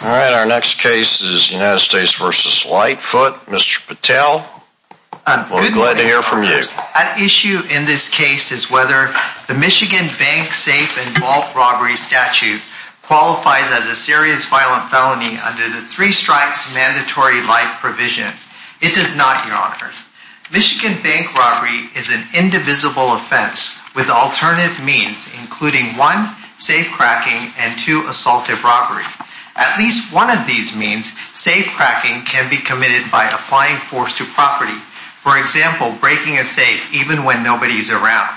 Our next case is United States v. Lightfoot. Mr. Patel, we're glad to hear from you. At issue in this case is whether the Michigan Bank Safe and Vault Robbery statute qualifies as a serious violent felony under the Three Strikes Mandatory Life Provision. It does not, Your Honors. Michigan bank robbery is an indivisible offense with alternative means, including one, safe cracking, and two, assaultive robbery. At least one of these means, safe cracking can be committed by applying force to property, for example, breaking a safe even when nobody is around.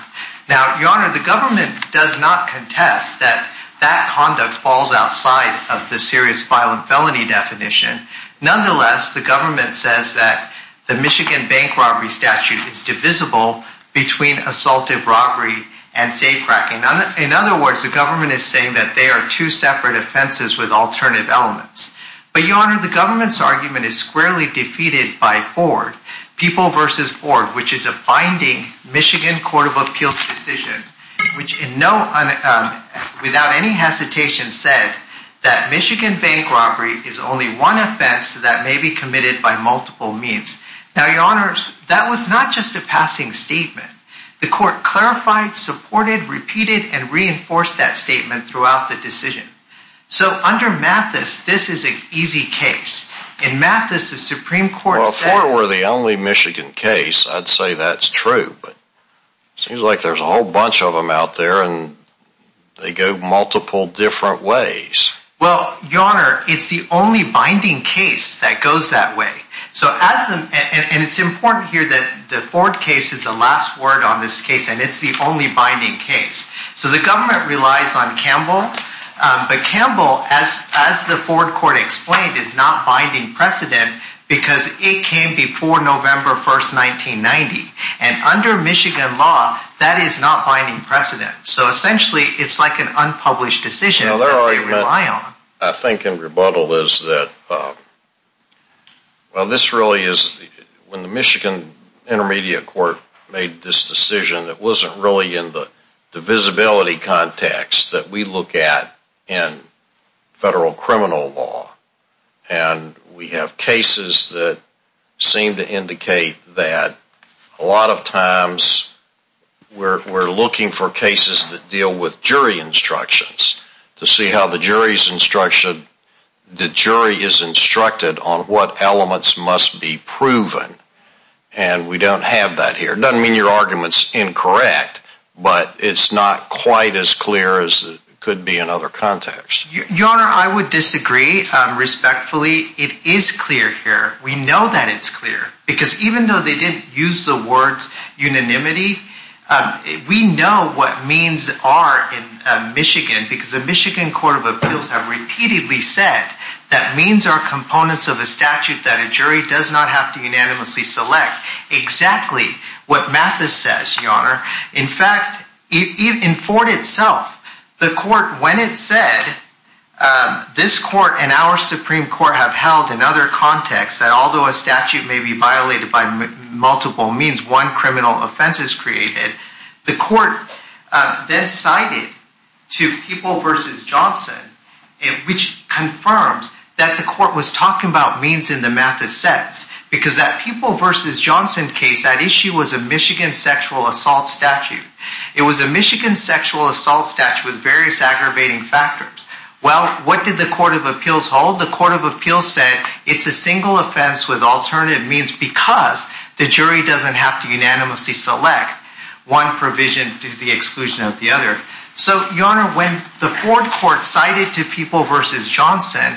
Now, Your Honor, the government does not contest that that conduct falls outside of the serious violent felony definition. Nonetheless, the government says that the Michigan bank robbery statute is divisible between assaultive robbery and safe cracking. In other words, the government is saying that they are two separate offenses with alternative elements. But, Your Honor, the government's argument is squarely defeated by BORD, People v. BORD, which is a binding Michigan Court of Appeals decision, which without any hesitation said that Michigan bank robbery is only one offense that may be committed by multiple means. Now, Your Honor, that was not just a passing statement. The court clarified, supported, repeated, and reinforced that statement throughout the decision. So, under Mathis, this is an easy case. In Mathis, the Supreme Court said... Well, if four were the only Michigan case, I'd say that's true, but it seems like there's a whole bunch of them out there and they go multiple different ways. Well, Your Honor, it's the only binding case that goes that way. And it's important here that the BORD case is the last word on this case and it's the only binding case. So, the government relies on Campbell, but Campbell, as the BORD court explained, is not binding precedent because it came before November 1, 1990. And under Michigan law, that is not binding precedent. So, essentially, it's like an unpublished decision that they rely on. I think in rebuttal is that, well, this really is... When the Michigan Intermediate Court made this decision, it wasn't really in the divisibility context that we look at in federal criminal law. And we have cases that seem to indicate that a lot of times we're looking for cases that deal with jury instructions, to see how the jury is instructed on what elements must be proven. And we don't have that here. It doesn't mean your argument's incorrect, but it's not quite as clear as it could be in other contexts. Your Honor, I would disagree respectfully. It is clear here. We know that it's clear. Because even though they didn't use the word unanimity, we know what means are in Michigan. Because the Michigan Court of Appeals have repeatedly said that means are components of a statute that a jury does not have to unanimously select. Exactly what Mathis says, Your Honor. In fact, in Fort itself, the court, when it said, this court and our Supreme Court have held in other contexts, that although a statute may be violated by multiple means, one criminal offense is created, the court then cited to People v. Johnson, which confirms that the court was talking about means in the Mathis sets. Because that People v. Johnson case, that issue was a Michigan sexual assault statute. It was a Michigan sexual assault statute with various aggravating factors. Well, what did the Court of Appeals hold? The Court of Appeals said it's a single offense with alternative means because the jury doesn't have to unanimously select one provision to the exclusion of the other. So, Your Honor, when the Ford Court cited to People v. Johnson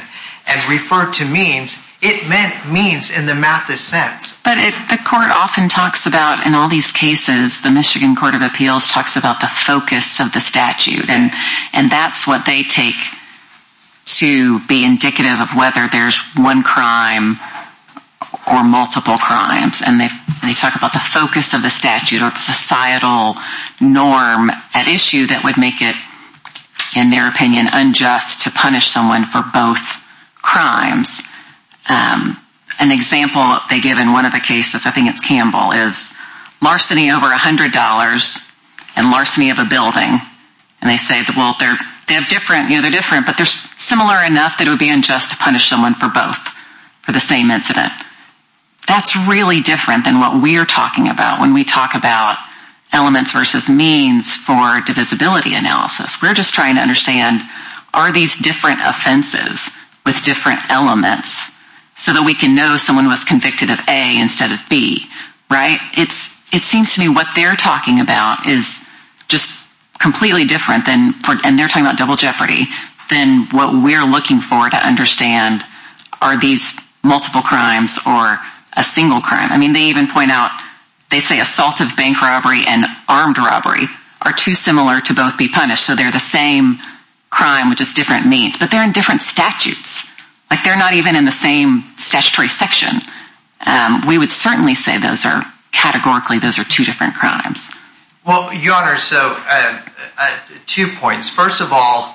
and referred to means, it meant means in the Mathis sense. But the court often talks about, in all these cases, the Michigan Court of Appeals talks about the focus of the statute. And that's what they take to be indicative of whether there's one crime or multiple crimes. And they talk about the focus of the statute or the societal norm at issue that would make it, in their opinion, unjust to punish someone for both crimes. An example they give in one of the cases, I think it's Campbell, is larceny over $100 and larceny of a building. And they say, well, they're different, but they're similar enough that it would be unjust to punish someone for both for the same incident. That's really different than what we're talking about when we talk about elements versus means for divisibility analysis. We're just trying to understand, are these different offenses with different elements so that we can know someone was convicted of A instead of B, right? It seems to me what they're talking about is just completely different, and they're talking about double jeopardy, than what we're looking for to understand are these multiple crimes or a single crime. I mean, they even point out, they say assault of bank robbery and armed robbery are too similar to both be punished, so they're the same crime with just different means, but they're in different statutes. They're not even in the same statutory section. We would certainly say categorically those are two different crimes. Well, Your Honor, so two points. First of all,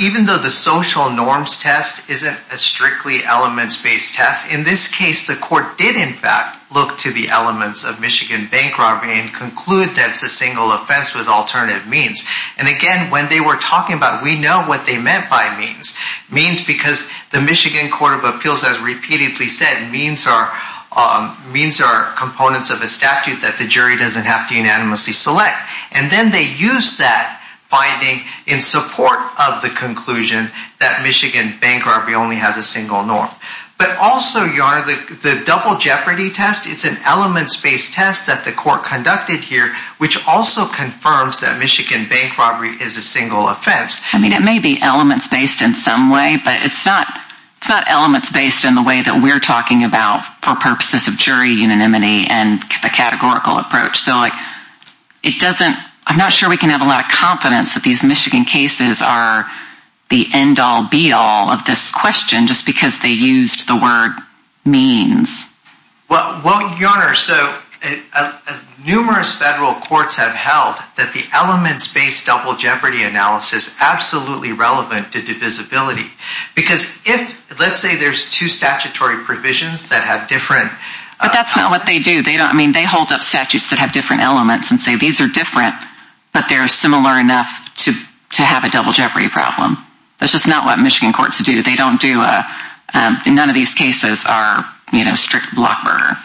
even though the social norms test isn't a strictly elements-based test, in this case, the court did, in fact, look to the elements of Michigan bank robbery and conclude that it's a single offense with alternative means. And again, when they were talking about it, we know what they meant by means. Means because the Michigan Court of Appeals has repeatedly said means are components of a statute that the jury doesn't have to unanimously select. And then they use that finding in support of the conclusion that Michigan bank robbery only has a single norm. But also, Your Honor, the double jeopardy test, it's an elements-based test that the court conducted here, which also confirms that Michigan bank robbery is a single offense. I mean, it may be elements-based in some way, but it's not elements-based in the way that we're talking about for purposes of jury unanimity and the categorical approach. So, like, it doesn't, I'm not sure we can have a lot of confidence that these Michigan cases are the end-all, be-all of this question just because they used the word means. Well, Your Honor, so numerous federal courts have held that the elements-based double jeopardy analysis is absolutely relevant to divisibility. Because if, let's say there's two statutory provisions that have different... But that's not what they do. I mean, they hold up statutes that have different elements and say these are different, but they're similar enough to have a double jeopardy problem. That's just not what Michigan courts do. They don't do, in none of these cases, are strict blockburger.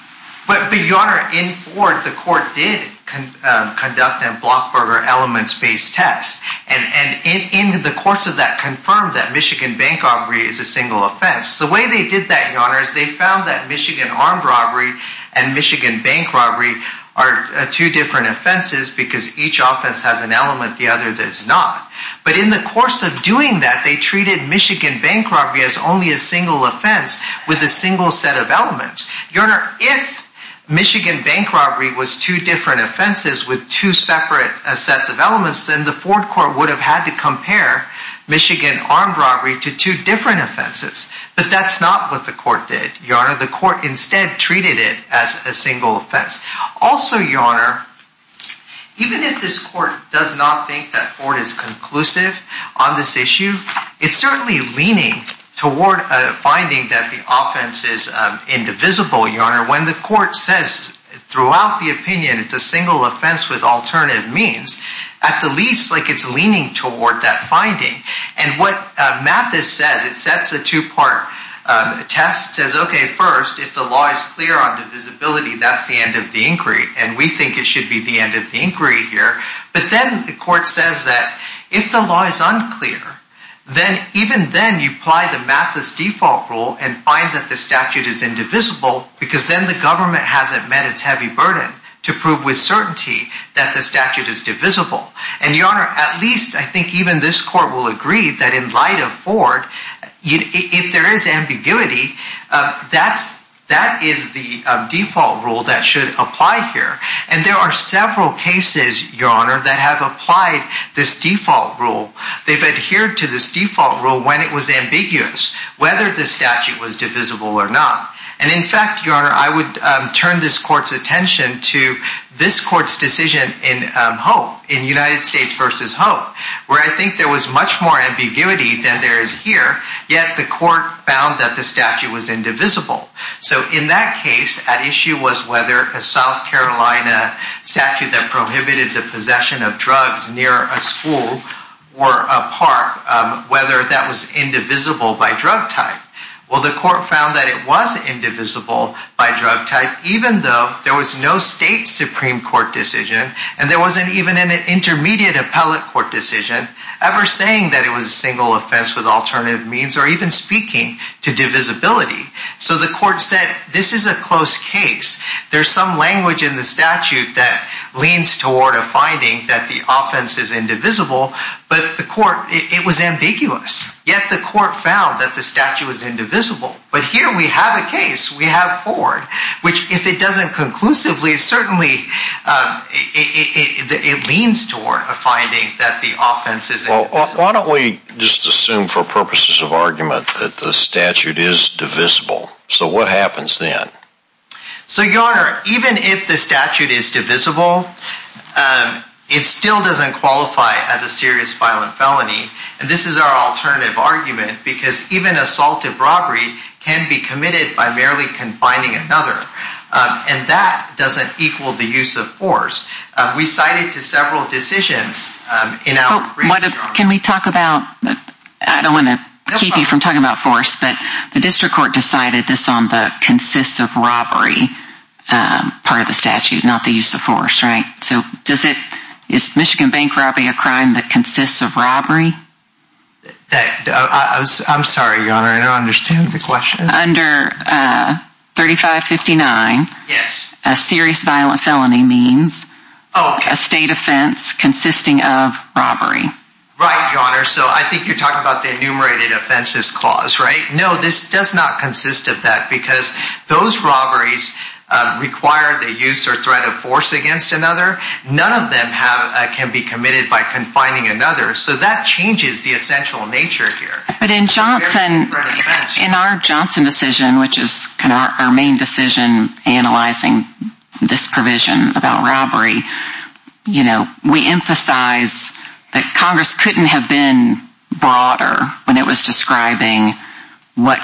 But, Your Honor, in Ford, the court did conduct a blockburger elements-based test. And in the course of that confirmed that Michigan bank robbery is a single offense. The way they did that, Your Honor, is they found that Michigan armed robbery and Michigan bank robbery are two different offenses because each offense has an element, the other does not. But in the course of doing that, they treated Michigan bank robbery as only a single offense with a single set of elements. Your Honor, if Michigan bank robbery was two different offenses with two separate sets of elements, then the Ford court would have had to compare Michigan armed robbery to two different offenses. But that's not what the court did, Your Honor. The court instead treated it as a single offense. Also, Your Honor, even if this court does not think that Ford is conclusive on this issue, it's certainly leaning toward finding that the offense is indivisible, Your Honor. When the court says throughout the opinion it's a single offense with alternative means, at the least, like it's leaning toward that finding. And what Mathis says, it sets a two-part test. It says, okay, first, if the law is clear on divisibility, that's the end of the inquiry. And we think it should be the end of the inquiry here. But then the court says that if the law is unclear, then even then you apply the Mathis default rule and find that the statute is indivisible because then the government hasn't met its heavy burden to prove with certainty that the statute is divisible. And, Your Honor, at least I think even this court will agree that in light of Ford, if there is ambiguity, that is the default rule that should apply here. And there are several cases, Your Honor, that have applied this default rule. They've adhered to this default rule when it was ambiguous, whether the statute was divisible or not. And, in fact, Your Honor, I would turn this court's attention to this court's decision in Hope, in United States v. Hope, where I think there was much more ambiguity than there is here, yet the court found that the statute was indivisible. So in that case, at issue was whether a South Carolina statute that prohibited the possession of drugs near a school were a part, whether that was indivisible by drug type. Well, the court found that it was indivisible by drug type, even though there was no state Supreme Court decision and there wasn't even an intermediate appellate court decision ever saying that it was a single offense with alternative means or even speaking to divisibility. So the court said, this is a close case. There's some language in the statute that leans toward a finding that the offense is indivisible. But the court, it was ambiguous, yet the court found that the statute was indivisible. But here we have a case, we have Ford, which if it doesn't conclusively, certainly it leans toward a finding that the offense is indivisible. Well, why don't we just assume for purposes of argument that the statute is divisible. So what happens then? So your Honor, even if the statute is divisible, it still doesn't qualify as a serious violent felony. And this is our alternative argument because even assaulted robbery can be committed by merely confining another. And that doesn't equal the use of force. We cited to several decisions. Can we talk about, I don't want to keep you from talking about force, but the district court decided this on the consists of robbery part of the statute, not the use of force, right? So does it, is Michigan bank robbery a crime that consists of robbery? I'm sorry, Your Honor, I don't understand the question. Under 3559, a serious violent felony means a state offense consisting of robbery. Right, Your Honor. So I think you're talking about the enumerated offenses clause, right? No, this does not consist of that because those robberies require the use or threat of force against another. None of them can be committed by confining another. So that changes the essential nature here. But in Johnson, in our Johnson decision, which is kind of our main decision analyzing this provision about robbery, you know, we emphasize that Congress couldn't have been broader when it was describing what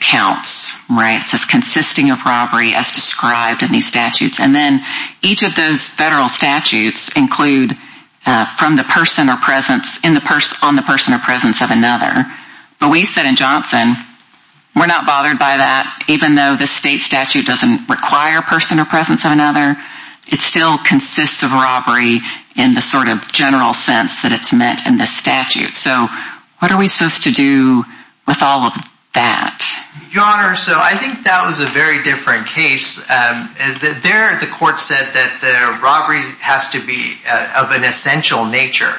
counts, right? So it's consisting of robbery as described in these statutes. And then each of those federal statutes include from the person or presence on the person or presence of another. But we said in Johnson, we're not bothered by that, even though the state statute doesn't require person or presence of another. It still consists of robbery in the sort of general sense that it's meant in this statute. So what are we supposed to do with all of that? Your Honor, so I think that was a very different case. There, the court said that the robbery has to be of an essential nature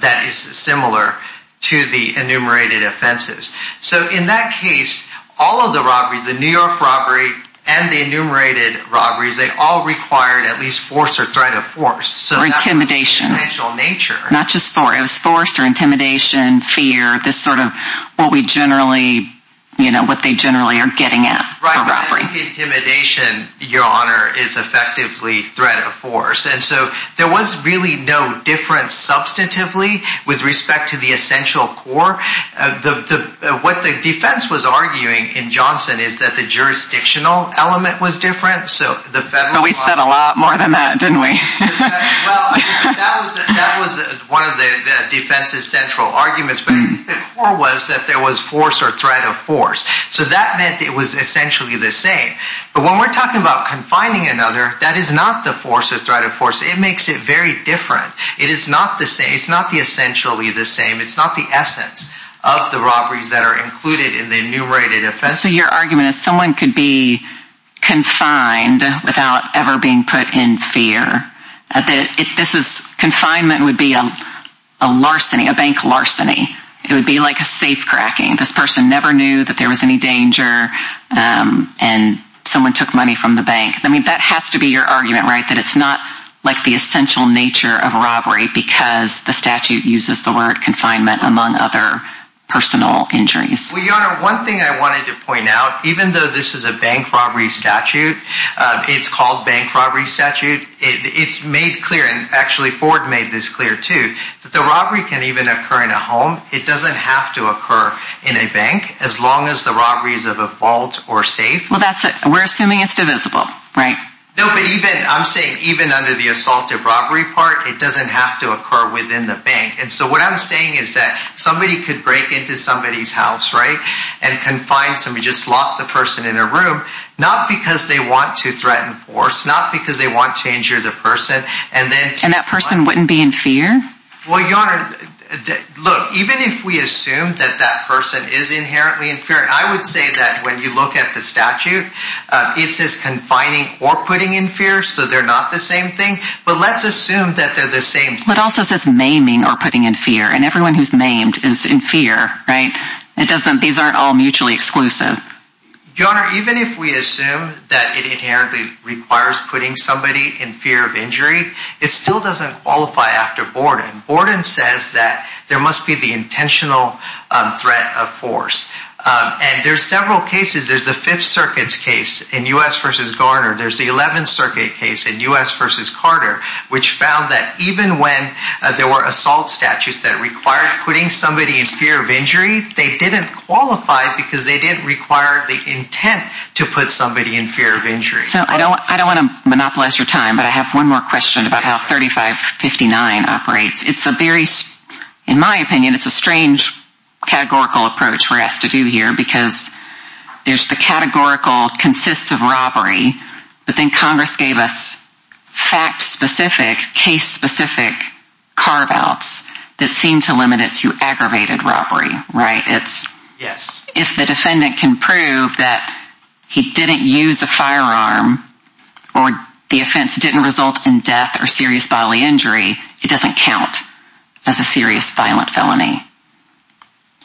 that is similar to the enumerated offenses. So in that case, all of the robberies, the New York robbery and the enumerated robberies, they all required at least force or threat of force. Not just force, it was force or intimidation, fear, this sort of what we generally, you know, what they generally are getting at. Right, intimidation, Your Honor, is effectively threat of force. And so there was really no difference substantively with respect to the essential core. What the defense was arguing in Johnson is that the jurisdictional element was different. We said a lot more than that, didn't we? Well, that was one of the defense's central arguments. But the core was that there was force or threat of force. So that meant it was essentially the same. But when we're talking about confining another, that is not the force or threat of force. It makes it very different. It is not the same. It's not the essentially the same. It's not the essence of the robberies that are included in the enumerated offenses. So your argument is someone could be confined without ever being put in fear. Confinement would be a larceny, a bank larceny. It would be like a safe cracking. This person never knew that there was any danger and someone took money from the bank. I mean, that has to be your argument, right, that it's not like the essential nature of robbery because the statute uses the word confinement among other personal injuries. Well, Your Honor, one thing I wanted to point out, even though this is a bank robbery statute, it's called bank robbery statute, it's made clear, and actually Ford made this clear too, that the robbery can even occur in a home. It doesn't have to occur in a bank as long as the robbery is of a vault or safe. Well, that's it. We're assuming it's divisible, right? No, but even, I'm saying even under the assaultive robbery part, it doesn't have to occur within the bank. And so what I'm saying is that somebody could break into somebody's house, right, and confine somebody, just lock the person in a room, not because they want to threaten force, not because they want to injure the person. And that person wouldn't be in fear? Well, Your Honor, look, even if we assume that that person is inherently in fear, I would say that when you look at the statute, it says confining or putting in fear, so they're not the same thing. But let's assume that they're the same thing. But it also says maiming or putting in fear. And everyone who's maimed is in fear, right? These aren't all mutually exclusive. Your Honor, even if we assume that it inherently requires putting somebody in fear of injury, it still doesn't qualify after Borden. Borden says that there must be the intentional threat of force. And there's several cases. There's the Fifth Circuit's case in U.S. v. Garner. There's the Eleventh Circuit case in U.S. v. Carter, which found that even when there were assault statutes that required putting somebody in fear of injury, they didn't qualify because they didn't require the intent to put somebody in fear of injury. So I don't want to monopolize your time, but I have one more question about how 3559 operates. It's a very, in my opinion, it's a strange categorical approach for us to do here But then Congress gave us fact-specific, case-specific carve-outs that seem to limit it to aggravated robbery, right? If the defendant can prove that he didn't use a firearm or the offense didn't result in death or serious bodily injury, it doesn't count as a serious violent felony.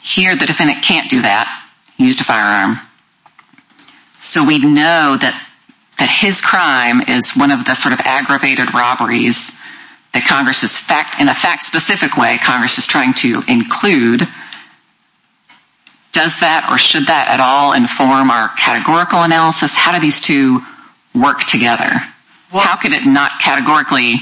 Here the defendant can't do that. He used a firearm. So we know that his crime is one of the sort of aggravated robberies that Congress is, in a fact-specific way, Congress is trying to include. Does that or should that at all inform our categorical analysis? How do these two work together? How could it not categorically,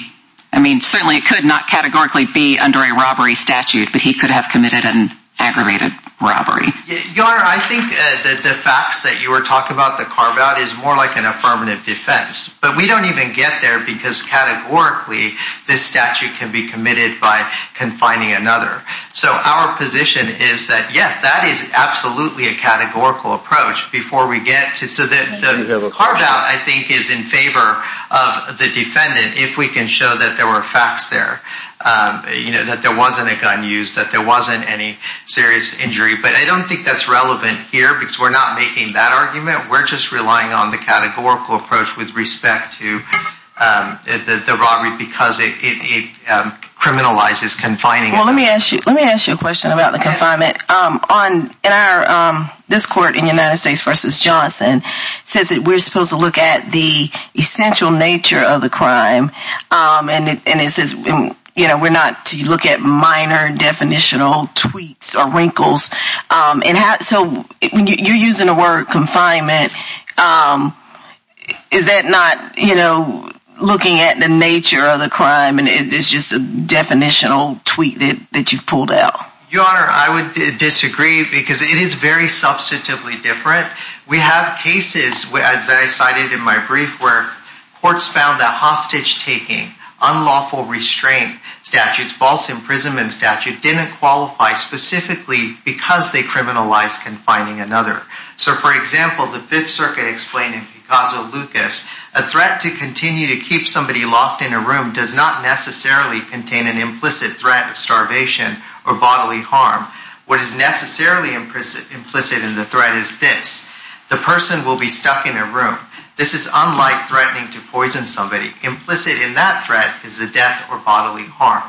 I mean, certainly it could not categorically be under a robbery statute, but he could have committed an aggravated robbery. Your Honor, I think that the facts that you were talking about, the carve-out, is more like an affirmative defense. But we don't even get there because categorically this statute can be committed by confining another. So our position is that, yes, that is absolutely a categorical approach before we get to, so the carve-out, I think, is in favor of the defendant if we can show that there were facts there, that there wasn't a gun used, that there wasn't any serious injury. But I don't think that's relevant here because we're not making that argument. We're just relying on the categorical approach with respect to the robbery because it criminalizes confining. Well, let me ask you a question about the confinement. This court in United States v. Johnson says that we're supposed to look at the essential nature of the crime, and it says we're not to look at minor definitional tweaks or wrinkles. So you're using the word confinement. Is that not looking at the nature of the crime and it's just a definitional tweak that you've pulled out? Your Honor, I would disagree because it is very substantively different. We have cases, as I cited in my brief, where courts found that hostage-taking, unlawful restraint statutes, false imprisonment statute, didn't qualify specifically because they criminalized confining another. So, for example, the Fifth Circuit explained in Picasso-Lucas, a threat to continue to keep somebody locked in a room does not necessarily contain an implicit threat of starvation or bodily harm. What is necessarily implicit in the threat is this, the person will be stuck in a room. This is unlike threatening to poison somebody. Implicit in that threat is a death or bodily harm.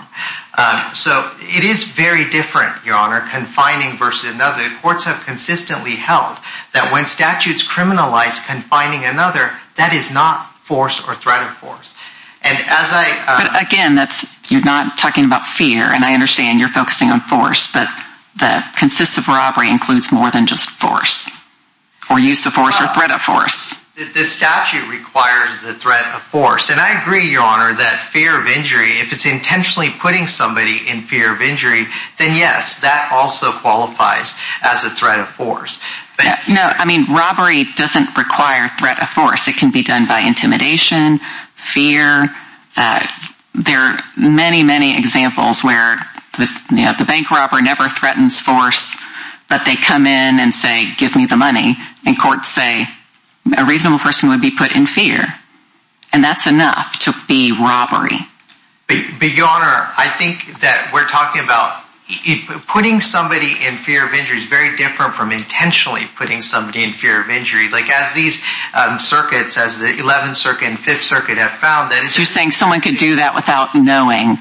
So it is very different, Your Honor, confining v. another. Courts have consistently held that when statutes criminalize confining another, that is not force or threat of force. Again, you're not talking about fear, and I understand you're focusing on force, but the consist of robbery includes more than just force or use of force or threat of force. The statute requires the threat of force, and I agree, Your Honor, that fear of injury, if it's intentionally putting somebody in fear of injury, then yes, that also qualifies as a threat of force. No, I mean robbery doesn't require threat of force. It can be done by intimidation, fear. There are many, many examples where the bank robber never threatens force, but they come in and say, give me the money, and courts say a reasonable person would be put in fear, and that's enough to be robbery. But Your Honor, I think that we're talking about putting somebody in fear of injury is very different from intentionally putting somebody in fear of injury. Like, as these circuits, as the 11th Circuit and 5th Circuit have found, that is... So you're saying someone could do that without knowing.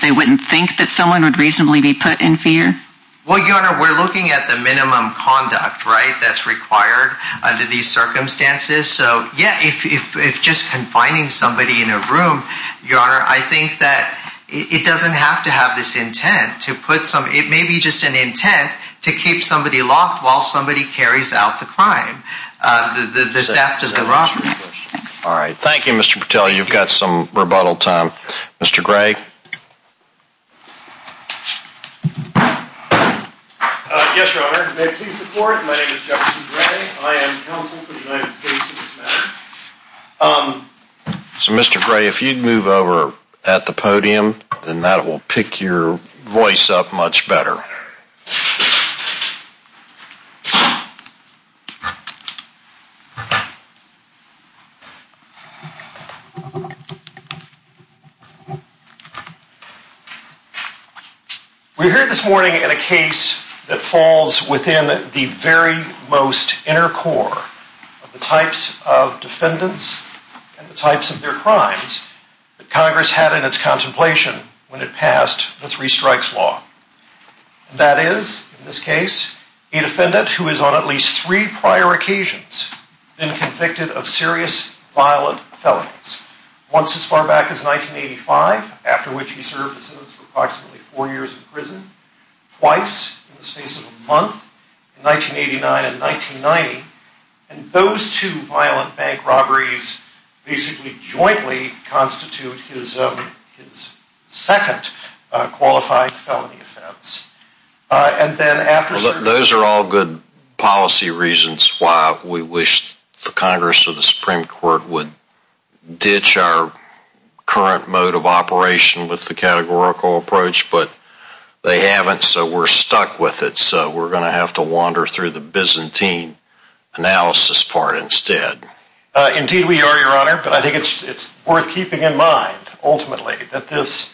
They wouldn't think that someone would reasonably be put in fear? Well, Your Honor, we're looking at the minimum conduct, right, that's required under these circumstances. So, yeah, if just confining somebody in a room, Your Honor, I think that it doesn't have to have this intent. It may be just an intent to keep somebody locked while somebody carries out the crime, the theft of the robbery. All right, thank you, Mr. Patel. You've got some rebuttal time. Mr. Gray? Yes, Your Honor. May it please the Court, my name is Jefferson Gray. I am counsel for the United States in this matter. So, Mr. Gray, if you'd move over at the podium, then that will pick your voice up much better. We're here this morning in a case that falls within the very most inner core of the types of defendants and the types of their crimes that Congress had in its contemplation when it passed the Three Strikes Law. That is, in this case, a defendant who is on at least three prior occasions been convicted of serious violent felonies. Once as far back as 1985, after which he served a sentence of approximately four years in prison. Twice in the space of a month, in 1989 and 1990. And those two violent bank robberies basically jointly constitute his second qualified felony offense. Those are all good policy reasons why we wish the Congress or the Supreme Court would ditch our current mode of operation with the categorical approach, but they haven't, so we're stuck with it. So we're going to have to wander through the Byzantine analysis part instead. Indeed we are, Your Honor, but I think it's worth keeping in mind ultimately that this,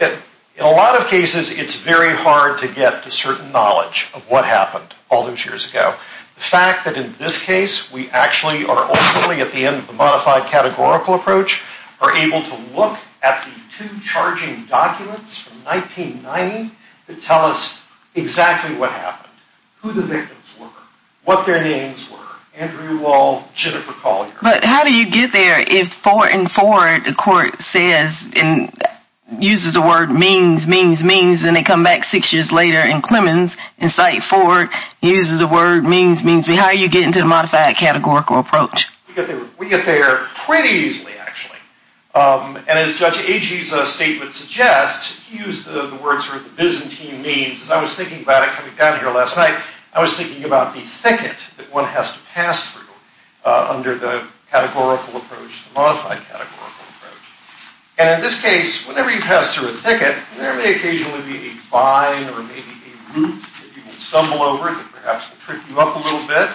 in a lot of cases, it's very hard to get to certain knowledge of what happened all those years ago. The fact that in this case, we actually are ultimately at the end of the modified categorical approach, are able to look at the two charging documents from 1990 to tell us exactly what happened, who the victims were, what their names were, Andrew Wall, Jennifer Collier. But how do you get there if Ford and Ford, the court says, uses the word means, means, means, and they come back six years later in Clemens and cite Ford, uses the word means, means, means. How are you getting to the modified categorical approach? We get there pretty easily, actually, and as Judge Agee's statement suggests, he used the words for the Byzantine means. As I was thinking about it coming down here last night, I was thinking about the thicket that one has to pass through under the categorical approach, the modified categorical approach. And in this case, whenever you pass through a thicket, there may occasionally be a vine or maybe a root that you can stumble over that perhaps will trick you up a little bit.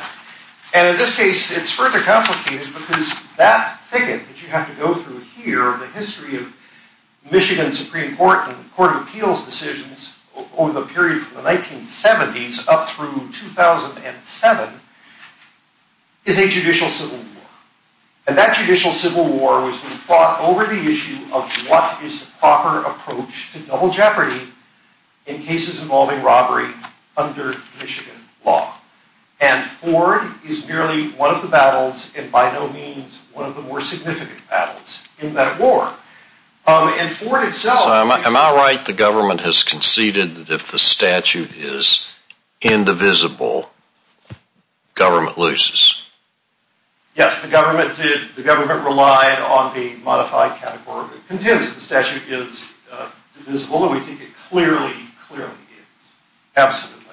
And in this case, it's further complicated because that thicket that you have to go through here, the history of Michigan Supreme Court and the Court of Appeals decisions over the period from the 1970s up through 2007, is a judicial civil war. And that judicial civil war was fought over the issue of what is the proper approach to double jeopardy in cases involving robbery under Michigan law. And Ford is merely one of the battles and by no means one of the more significant battles in that war. And Ford itself... Am I right that the government has conceded that if the statute is indivisible, government loses? Yes, the government did. The government relied on the modified categorical contention. The statute is divisible and we think it clearly, clearly is. Absolutely.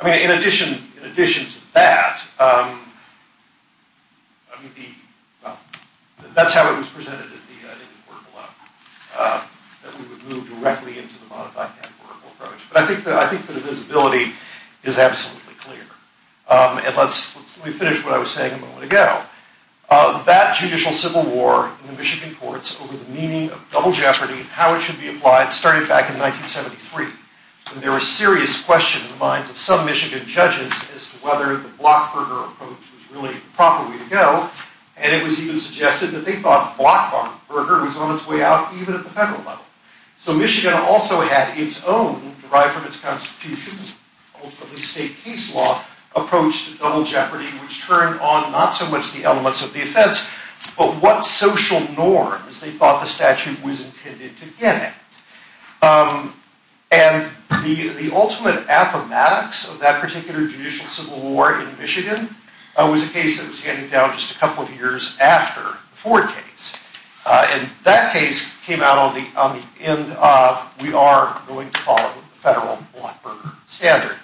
I mean, in addition to that, that's how it was presented in the court below, that we would move directly into the modified categorical approach. But I think the divisibility is absolutely clear. And let me finish what I was saying a moment ago. That judicial civil war in the Michigan courts over the meaning of double jeopardy, how it should be applied, started back in 1973. And there was a serious question in the minds of some Michigan judges as to whether the Blockburger approach was really the proper way to go. And it was even suggested that they thought Blockburger was on its way out even at the federal level. So Michigan also had its own, derived from its constitution, ultimately state case law, approach to double jeopardy, which turned on not so much the elements of the offense, but what social norms they thought the statute was intended to get at. And the ultimate affamatics of that particular judicial civil war in Michigan was a case that was handed down just a couple of years after the Ford case. And that case came out on the end of, we are going to follow the federal Blockburger standard.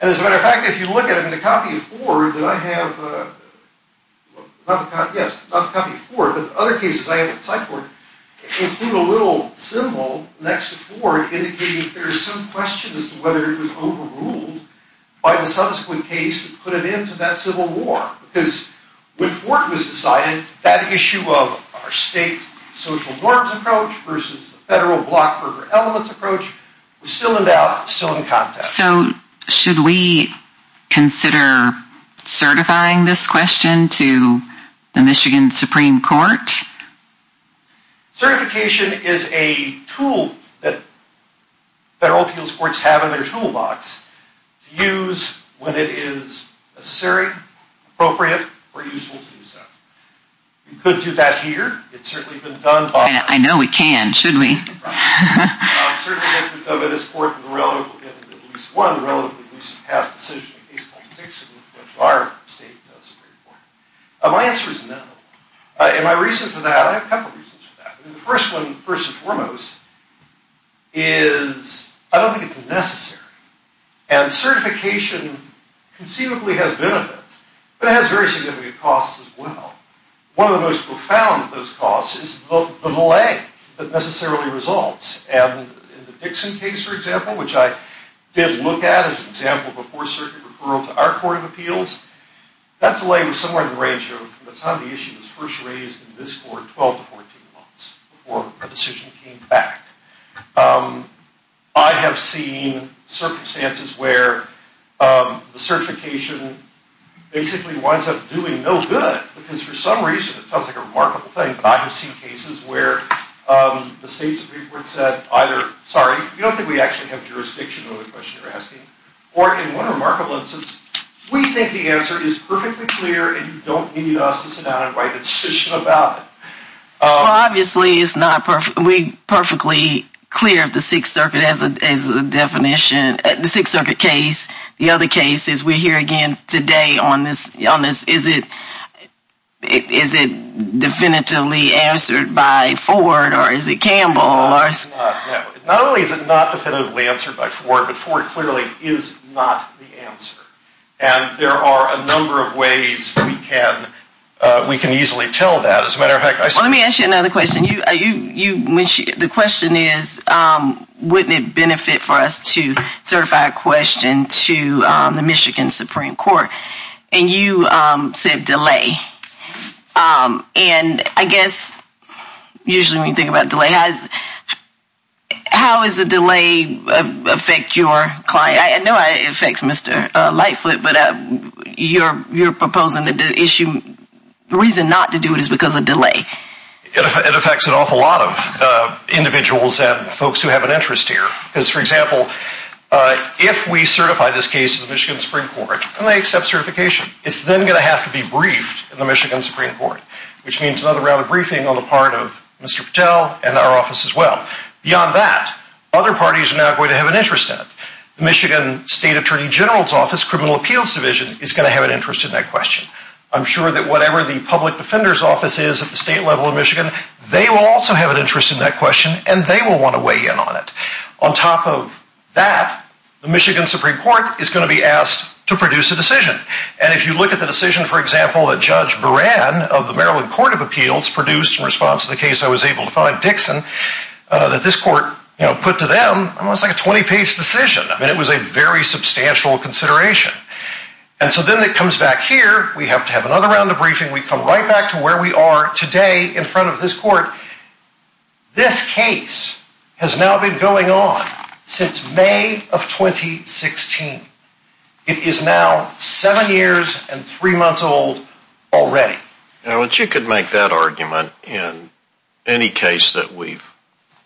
And as a matter of fact, if you look at it in the copy of Ford that I have, yes, not the copy of Ford, but other cases I have at Cyborg, include a little symbol next to Ford indicating that there is some question as to whether it was overruled by the subsequent case that put an end to that civil war. Because when Ford was decided, that issue of our state social norms approach versus the federal Blockburger elements approach was still in doubt, still in context. So should we consider certifying this question to the Michigan Supreme Court? Certification is a tool that federal appeals courts have in their toolbox to use when it is necessary, appropriate, or useful to do so. You could do that here. It has certainly been done. I know we can. Should we? Certification has been done by this court in the relatively recent past decision in a case called Dixon, which our state does. My answer is no. And my reason for that, I have a couple of reasons for that. The first one, first and foremost, is I don't think it's necessary. And certification conceivably has benefits, but it has very significant costs as well. One of the most profound of those costs is the delay that necessarily results. And in the Dixon case, for example, which I did look at as an example before circuit referral to our court of appeals, that delay was somewhere in the range of the time the issue was first raised in this court, 12 to 14 months before a decision came back. I have seen circumstances where the certification basically winds up doing no good because for some reason, it sounds like a remarkable thing, but I have seen cases where the state's report said either, sorry, you don't think we actually have jurisdiction on the question you're asking, or in one remarkable instance, we think the answer is perfectly clear and you don't need us to sit down and write a decision about it. Well, obviously it's not perfectly clear if the Sixth Circuit has a definition. The Sixth Circuit case, the other cases we hear again today on this, is it definitively answered by Ford or is it Campbell? Not only is it not definitively answered by Ford, but Ford clearly is not the answer. And there are a number of ways we can easily tell that. Let me ask you another question. The question is wouldn't it benefit for us to certify a question to the Michigan Supreme Court? And you said delay. And I guess usually when you think about delay, how does a delay affect your client? I know it affects Mr. Lightfoot, but you're proposing that the reason not to do it is because of delay. It affects an awful lot of individuals and folks who have an interest here. Because, for example, if we certify this case to the Michigan Supreme Court and they accept certification, it's then going to have to be briefed in the Michigan Supreme Court, which means another round of briefing on the part of Mr. Patel and our office as well. Beyond that, other parties are now going to have an interest in it. The Michigan State Attorney General's Office, Criminal Appeals Division, is going to have an interest in that question. I'm sure that whatever the Public Defender's Office is at the state level in Michigan, they will also have an interest in that question and they will want to weigh in on it. On top of that, the Michigan Supreme Court is going to be asked to produce a decision. And if you look at the decision, for example, that Judge Buran of the Maryland Court of Appeals produced in response to the case I was able to find, Dixon, that this court put to them, it was like a 20-page decision. It was a very substantial consideration. And so then it comes back here. We have to have another round of briefing. We come right back to where we are today in front of this court. This case has now been going on since May of 2016. It is now seven years and three months old already. Now, you could make that argument in any case that we've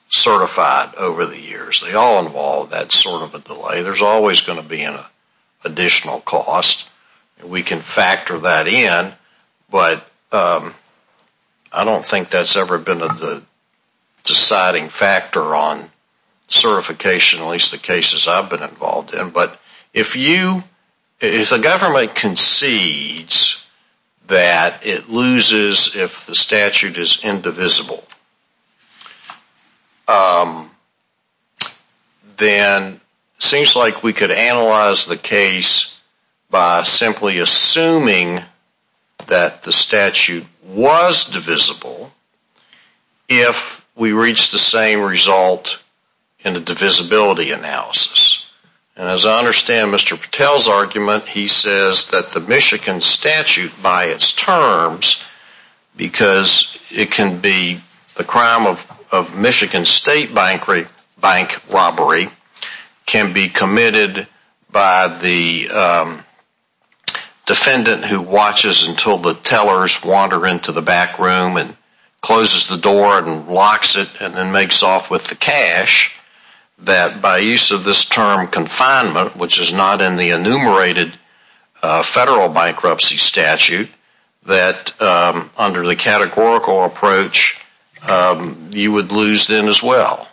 certified over the years. They all involve that sort of a delay. There's always going to be an additional cost. We can factor that in. But I don't think that's ever been the deciding factor on certification, at least the cases I've been involved in. But if you, if the government concedes that it loses if the statute is indivisible, then it seems like we could analyze the case by simply assuming that the statute was divisible if we reach the same result in the divisibility analysis. And as I understand Mr. Patel's argument, he says that the Michigan statute by its terms, because it can be the crime of Michigan State bank robbery, can be committed by the defendant who watches until the tellers wander into the back room and closes the door and locks it and then makes off with the cash, that by use of this term confinement, which is not in the enumerated federal bankruptcy statute, that under the categorical approach you would lose then as well.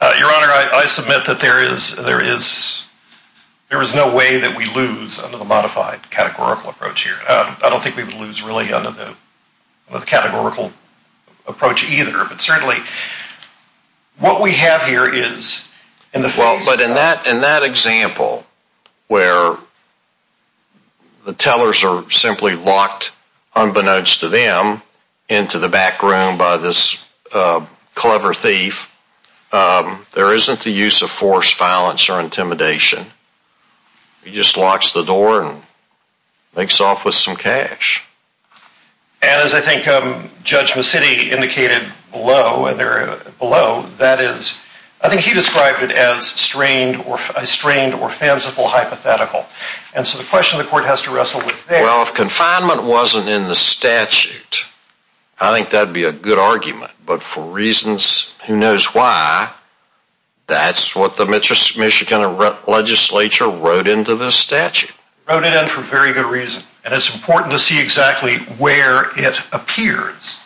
Your Honor, I submit that there is no way that we lose under the modified categorical approach here. I don't think we would lose really under the categorical approach either. But certainly what we have here is... Well, but in that example where the tellers are simply locked, unbeknownst to them, into the back room by this clever thief, there isn't the use of force, violence, or intimidation. He just locks the door and makes off with some cash. And as I think Judge Massitti indicated below, I think he described it as a strained or fanciful hypothetical. And so the question the court has to wrestle with there... Well, if confinement wasn't in the statute, I think that would be a good argument. But for reasons who knows why, that's what the Michigan legislature wrote into this statute. They wrote it in for a very good reason. And it's important to see exactly where it appears.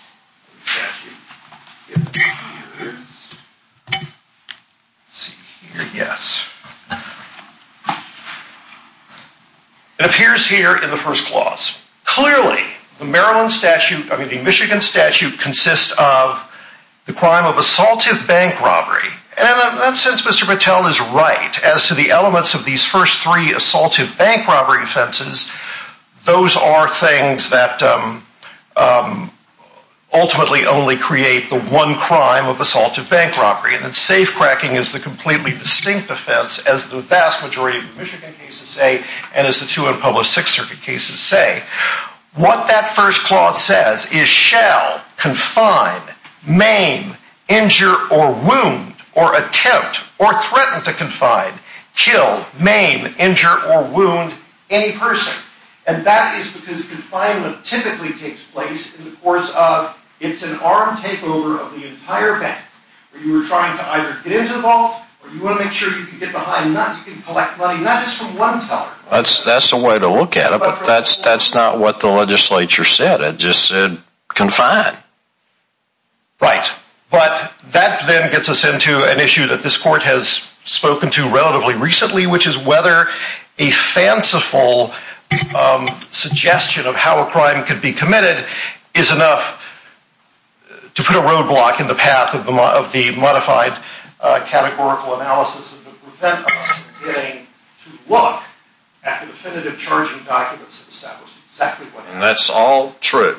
It appears here in the first clause. Clearly, the Michigan statute consists of the crime of assaultive bank robbery. And in that sense, Mr. Battelle is right. As to the elements of these first three assaultive bank robbery offenses, those are things that ultimately only create the one crime of assaultive bank robbery. And safecracking is the completely distinct offense, as the vast majority of the Michigan cases say, and as the two unpublished Sixth Circuit cases say. What that first clause says is, You shall confine, maim, injure or wound or attempt or threaten to confine, kill, maim, injure or wound any person. And that is because confinement typically takes place in the course of it's an armed takeover of the entire bank. You are trying to either get into the vault, or you want to make sure you can get behind, you can collect money not just from one teller. That's the way to look at it, but that's not what the legislature said. They just said, confine. Right. But that then gets us into an issue that this court has spoken to relatively recently, which is whether a fanciful suggestion of how a crime could be committed is enough to put a roadblock in the path of the modified categorical analysis of the prevention of us getting to look at the definitive charging documents that establish exactly what happened. And that's all true,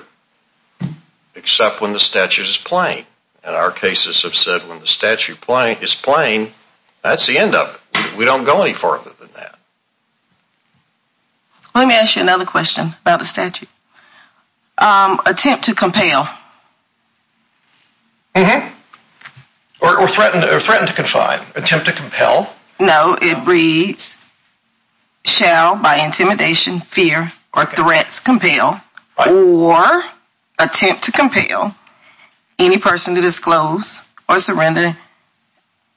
except when the statute is plain. And our cases have said when the statute is plain, that's the end of it. We don't go any further than that. Let me ask you another question about the statute. Attempt to compel. Or threaten to confine. Attempt to compel. No, it reads, shall, by intimidation, fear, or threats, compel, or attempt to compel any person to disclose or surrender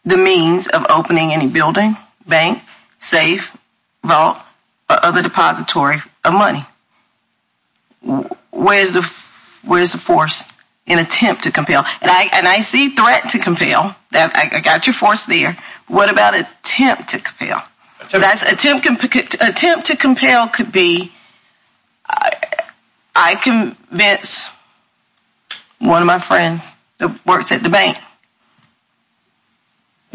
the means of opening any building, bank, safe, vault, or other depository of money. Where is the force in attempt to compel? And I see threat to compel. I got your force there. What about attempt to compel? Attempt to compel could be, I convince one of my friends that works at the bank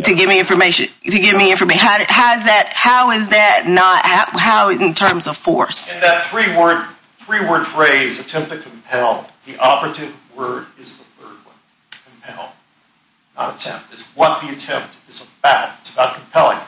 to give me information. How is that not, how in terms of force? In that three-word phrase, attempt to compel, the operative word is the third one. Not attempt. It's what the attempt is about. It's about compelling.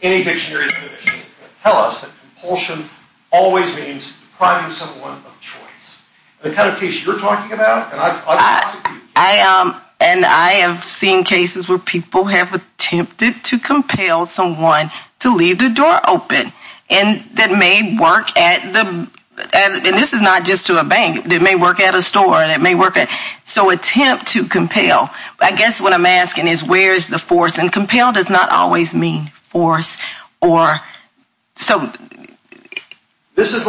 Any dictionary of conditions is going to tell us that compulsion always means depriving someone of choice. The kind of case you're talking about, and I've prosecuted cases. And I have seen cases where people have attempted to compel someone to leave the door open that may work at the, and this is not just to a bank, that may work at a store. So attempt to compel, I guess what I'm asking is where is the force? And compel does not always mean force or, so. This is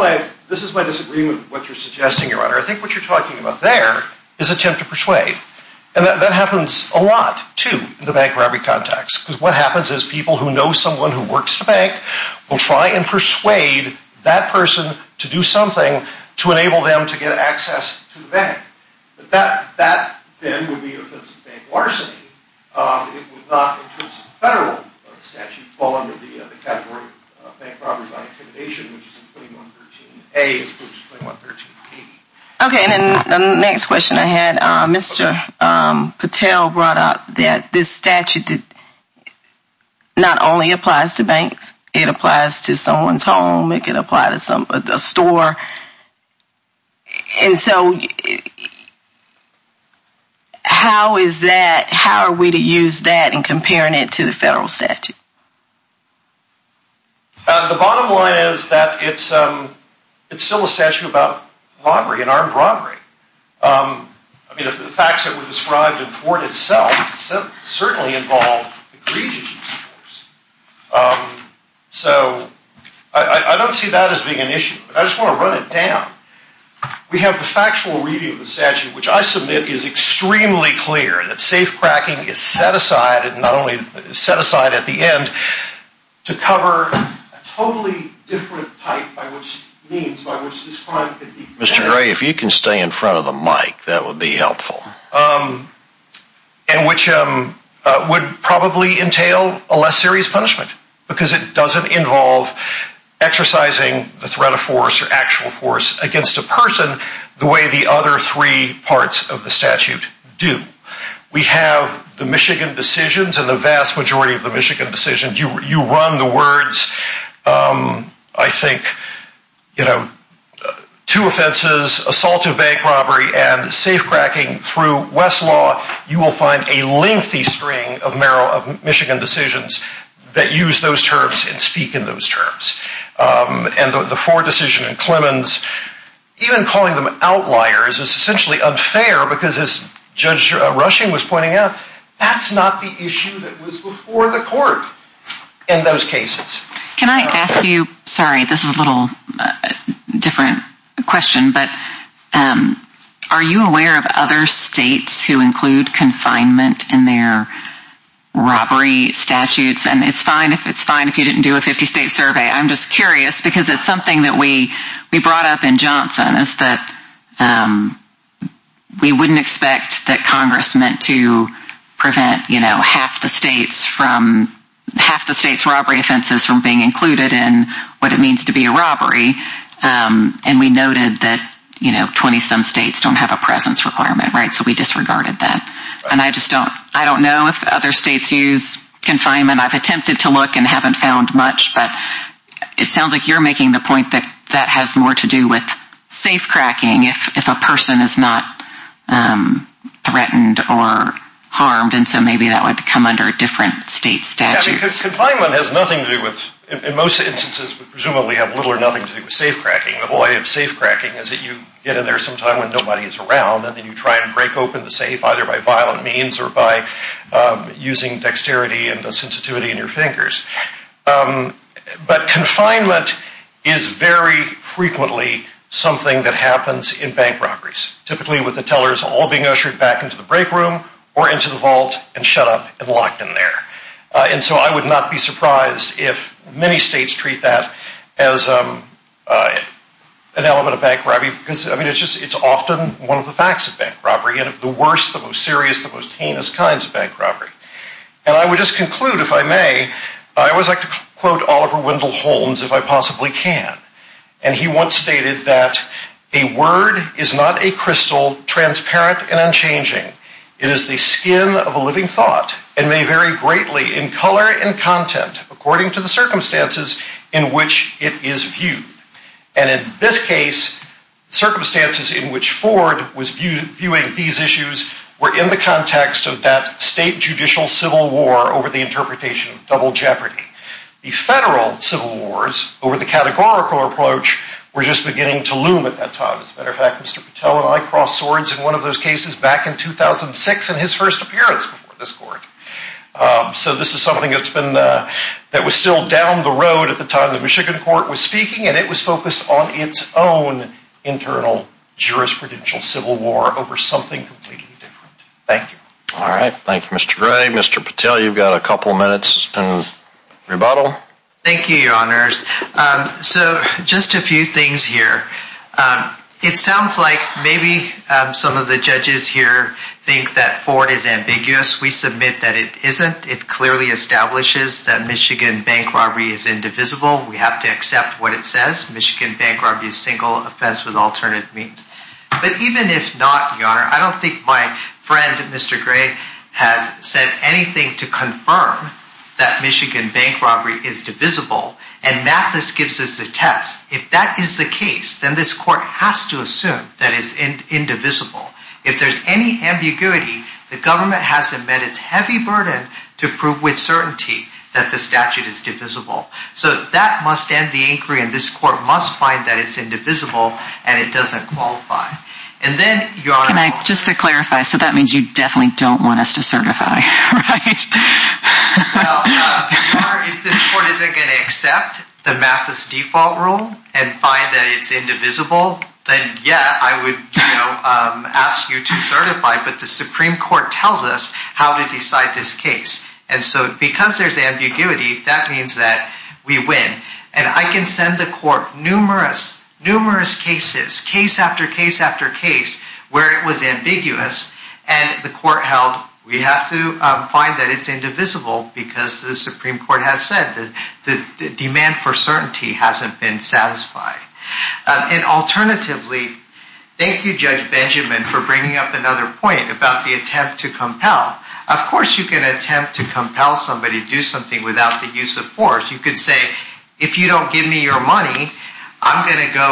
my disagreement with what you're suggesting, Your Honor. I think what you're talking about there is attempt to persuade. And that happens a lot, too, in the bank robbery context. Because what happens is people who know someone who works at a bank will try and persuade that person to do something to enable them to get access to the bank. But that then would be an offensive bank larceny. It would not, in terms of federal statute, fall under the category of bank robbery by intimidation, which is in 2113A as opposed to 2113B. Okay, and then the next question I had, Mr. Patel brought up that this statute not only applies to banks. It applies to someone's home. It can apply to a store. And so how is that, how are we to use that in comparing it to the federal statute? The bottom line is that it's still a statute about robbery, an armed robbery. I mean, the facts that were described in court itself certainly involve egregious use of force. So I don't see that as being an issue. I just want to run it down. We have the factual review of the statute, which I submit is extremely clear, that safecracking is set aside and not only set aside at the end to cover a totally different type by which means, by which this crime could be prevented. Mr. Gray, if you can stay in front of the mic, that would be helpful. And which would probably entail a less serious punishment, because it doesn't involve exercising the threat of force or actual force against a person the way the other three parts of the statute do. We have the Michigan decisions and the vast majority of the Michigan decisions. You run the words, I think, you know, two offenses, assault of bank robbery, and safecracking through Westlaw, you will find a lengthy string of Michigan decisions that use those terms and speak in those terms. And the Ford decision in Clemens, even calling them outliers is essentially unfair because as Judge Rushing was pointing out, that's not the issue that was before the court in those cases. Can I ask you, sorry, this is a little different question, but are you aware of other states who include confinement in their robbery statutes? And it's fine if it's fine if you didn't do a 50-state survey. I'm just curious, because it's something that we brought up in Johnson, is that we wouldn't expect that Congress meant to prevent, you know, half the states' robbery offenses from being included in what it means to be a robbery. And we noted that, you know, 20-some states don't have a presence requirement, right? So we disregarded that. And I just don't know if other states use confinement. I've attempted to look and haven't found much, but it sounds like you're making the point that that has more to do with safe-cracking if a person is not threatened or harmed. And so maybe that would come under a different state statute. Yeah, because confinement has nothing to do with, in most instances, presumably have little or nothing to do with safe-cracking. The whole idea of safe-cracking is that you get in there sometime when nobody is around and then you try and break open the safe either by violent means or by using dexterity and sensitivity in your fingers. But confinement is very frequently something that happens in bank robberies, typically with the tellers all being ushered back into the break room or into the vault and shut up and locked in there. And so I would not be surprised if many states treat that as an element of bank robbery, because, I mean, it's often one of the facts of bank robbery. And of the worst, the most serious, the most heinous kinds of bank robbery. And I would just conclude, if I may, I always like to quote Oliver Wendell Holmes, if I possibly can. And he once stated that a word is not a crystal, transparent and unchanging. It is the skin of a living thought and may vary greatly in color and content according to the circumstances in which it is viewed. And in this case, circumstances in which Ford was viewing these issues were in the context of that state judicial civil war over the interpretation of double jeopardy. The federal civil wars, over the categorical approach, were just beginning to loom at that time. As a matter of fact, Mr. Patel and I crossed swords in one of those cases back in 2006 in his first appearance before this court. So this is something that's been, that was still down the road at the time the Michigan court was speaking, and it was focused on its own internal jurisprudential civil war over something completely different. Thank you. All right. Thank you, Mr. Gray. Mr. Patel, you've got a couple minutes in rebuttal. Thank you, Your Honors. So just a few things here. It sounds like maybe some of the judges here think that Ford is ambiguous. We submit that it isn't. It clearly establishes that Michigan bank robbery is indivisible. We have to accept what it says. Michigan bank robbery is a single offense with alternate means. But even if not, Your Honor, I don't think my friend, Mr. Gray, has said anything to confirm that Michigan bank robbery is divisible, and that just gives us a test. If that is the case, then this court has to assume that it's indivisible. If there's any ambiguity, the government has amended its heavy burden to prove with certainty that the statute is divisible. So that must end the inquiry, and this court must find that it's indivisible and it doesn't qualify. And then, Your Honor, Can I just clarify? So that means you definitely don't want us to certify, right? Well, Your Honor, if this court isn't going to accept the Mathis default rule and find that it's indivisible, then, yeah, I would ask you to certify, but the Supreme Court tells us how to decide this case. And so because there's ambiguity, that means that we win. And I can send the court numerous, numerous cases, case after case after case, where it was ambiguous, and the court held we have to find that it's indivisible because the Supreme Court has said that the demand for certainty hasn't been satisfied. And alternatively, thank you, Judge Benjamin, for bringing up another point about the attempt to compel. Of course you can attempt to compel somebody to do something without the use of force. You could say, if you don't give me your money, I'm going to go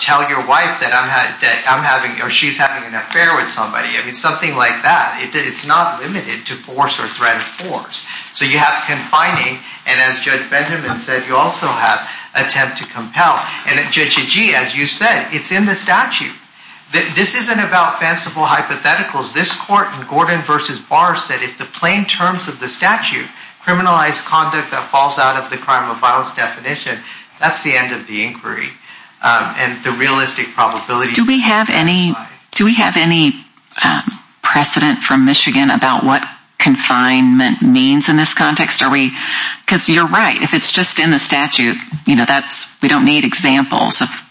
tell your wife that I'm having, or she's having an affair with somebody. I mean, something like that. It's not limited to force or threat of force. So you have confining, and as Judge Benjamin said, you also have attempt to compel. And Judge Agee, as you said, it's in the statute. This isn't about fanciful hypotheticals. This court in Gordon v. Barr said if the plain terms of the statute, criminalized conduct that falls out of the crime of violence definition, that's the end of the inquiry. And the realistic probability... Do we have any precedent from Michigan about what confinement means in this context? Because you're right, if it's just in the statute, we don't need examples of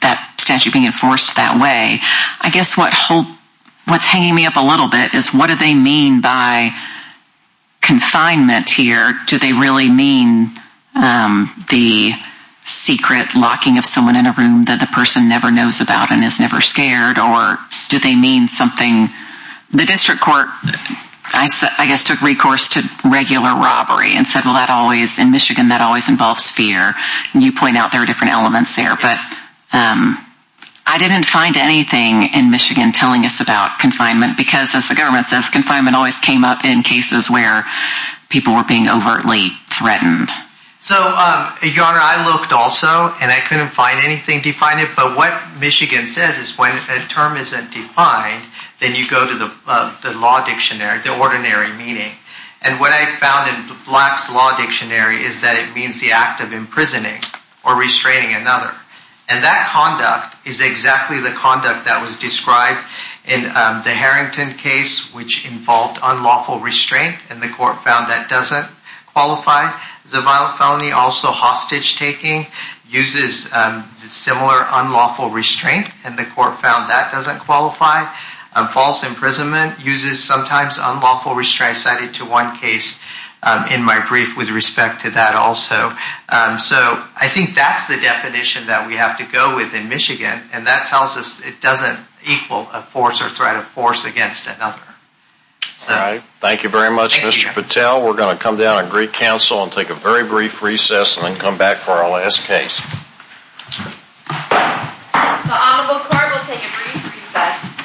that statute being enforced that way. I guess what's hanging me up a little bit is, what do they mean by confinement here? Do they really mean the secret locking of someone in a room that the person never knows about and is never scared? Or do they mean something... The district court, I guess, took recourse to regular robbery and said, well, in Michigan, that always involves fear. And you point out there are different elements there. But I didn't find anything in Michigan telling us about confinement because, as the government says, confinement always came up in cases where people were being overtly threatened. So, Your Honor, I looked also, and I couldn't find anything defining it. But what Michigan says is when a term isn't defined, then you go to the law dictionary, the ordinary meaning. And what I found in Black's Law Dictionary is that it means the act of imprisoning or restraining another. And that conduct is exactly the conduct that was described in the Harrington case, which involved unlawful restraint, and the court found that doesn't qualify. The violent felony, also hostage-taking, uses similar unlawful restraint, and the court found that doesn't qualify. False imprisonment uses sometimes unlawful restraint cited to one case in my brief with respect to that also. So I think that's the definition that we have to go with in Michigan. And that tells us it doesn't equal a force or threat of force against another. All right. Thank you very much, Mr. Patel. We're going to come down and greet counsel and take a very brief recess and then come back for our last case. The Honorable Court will take a brief recess.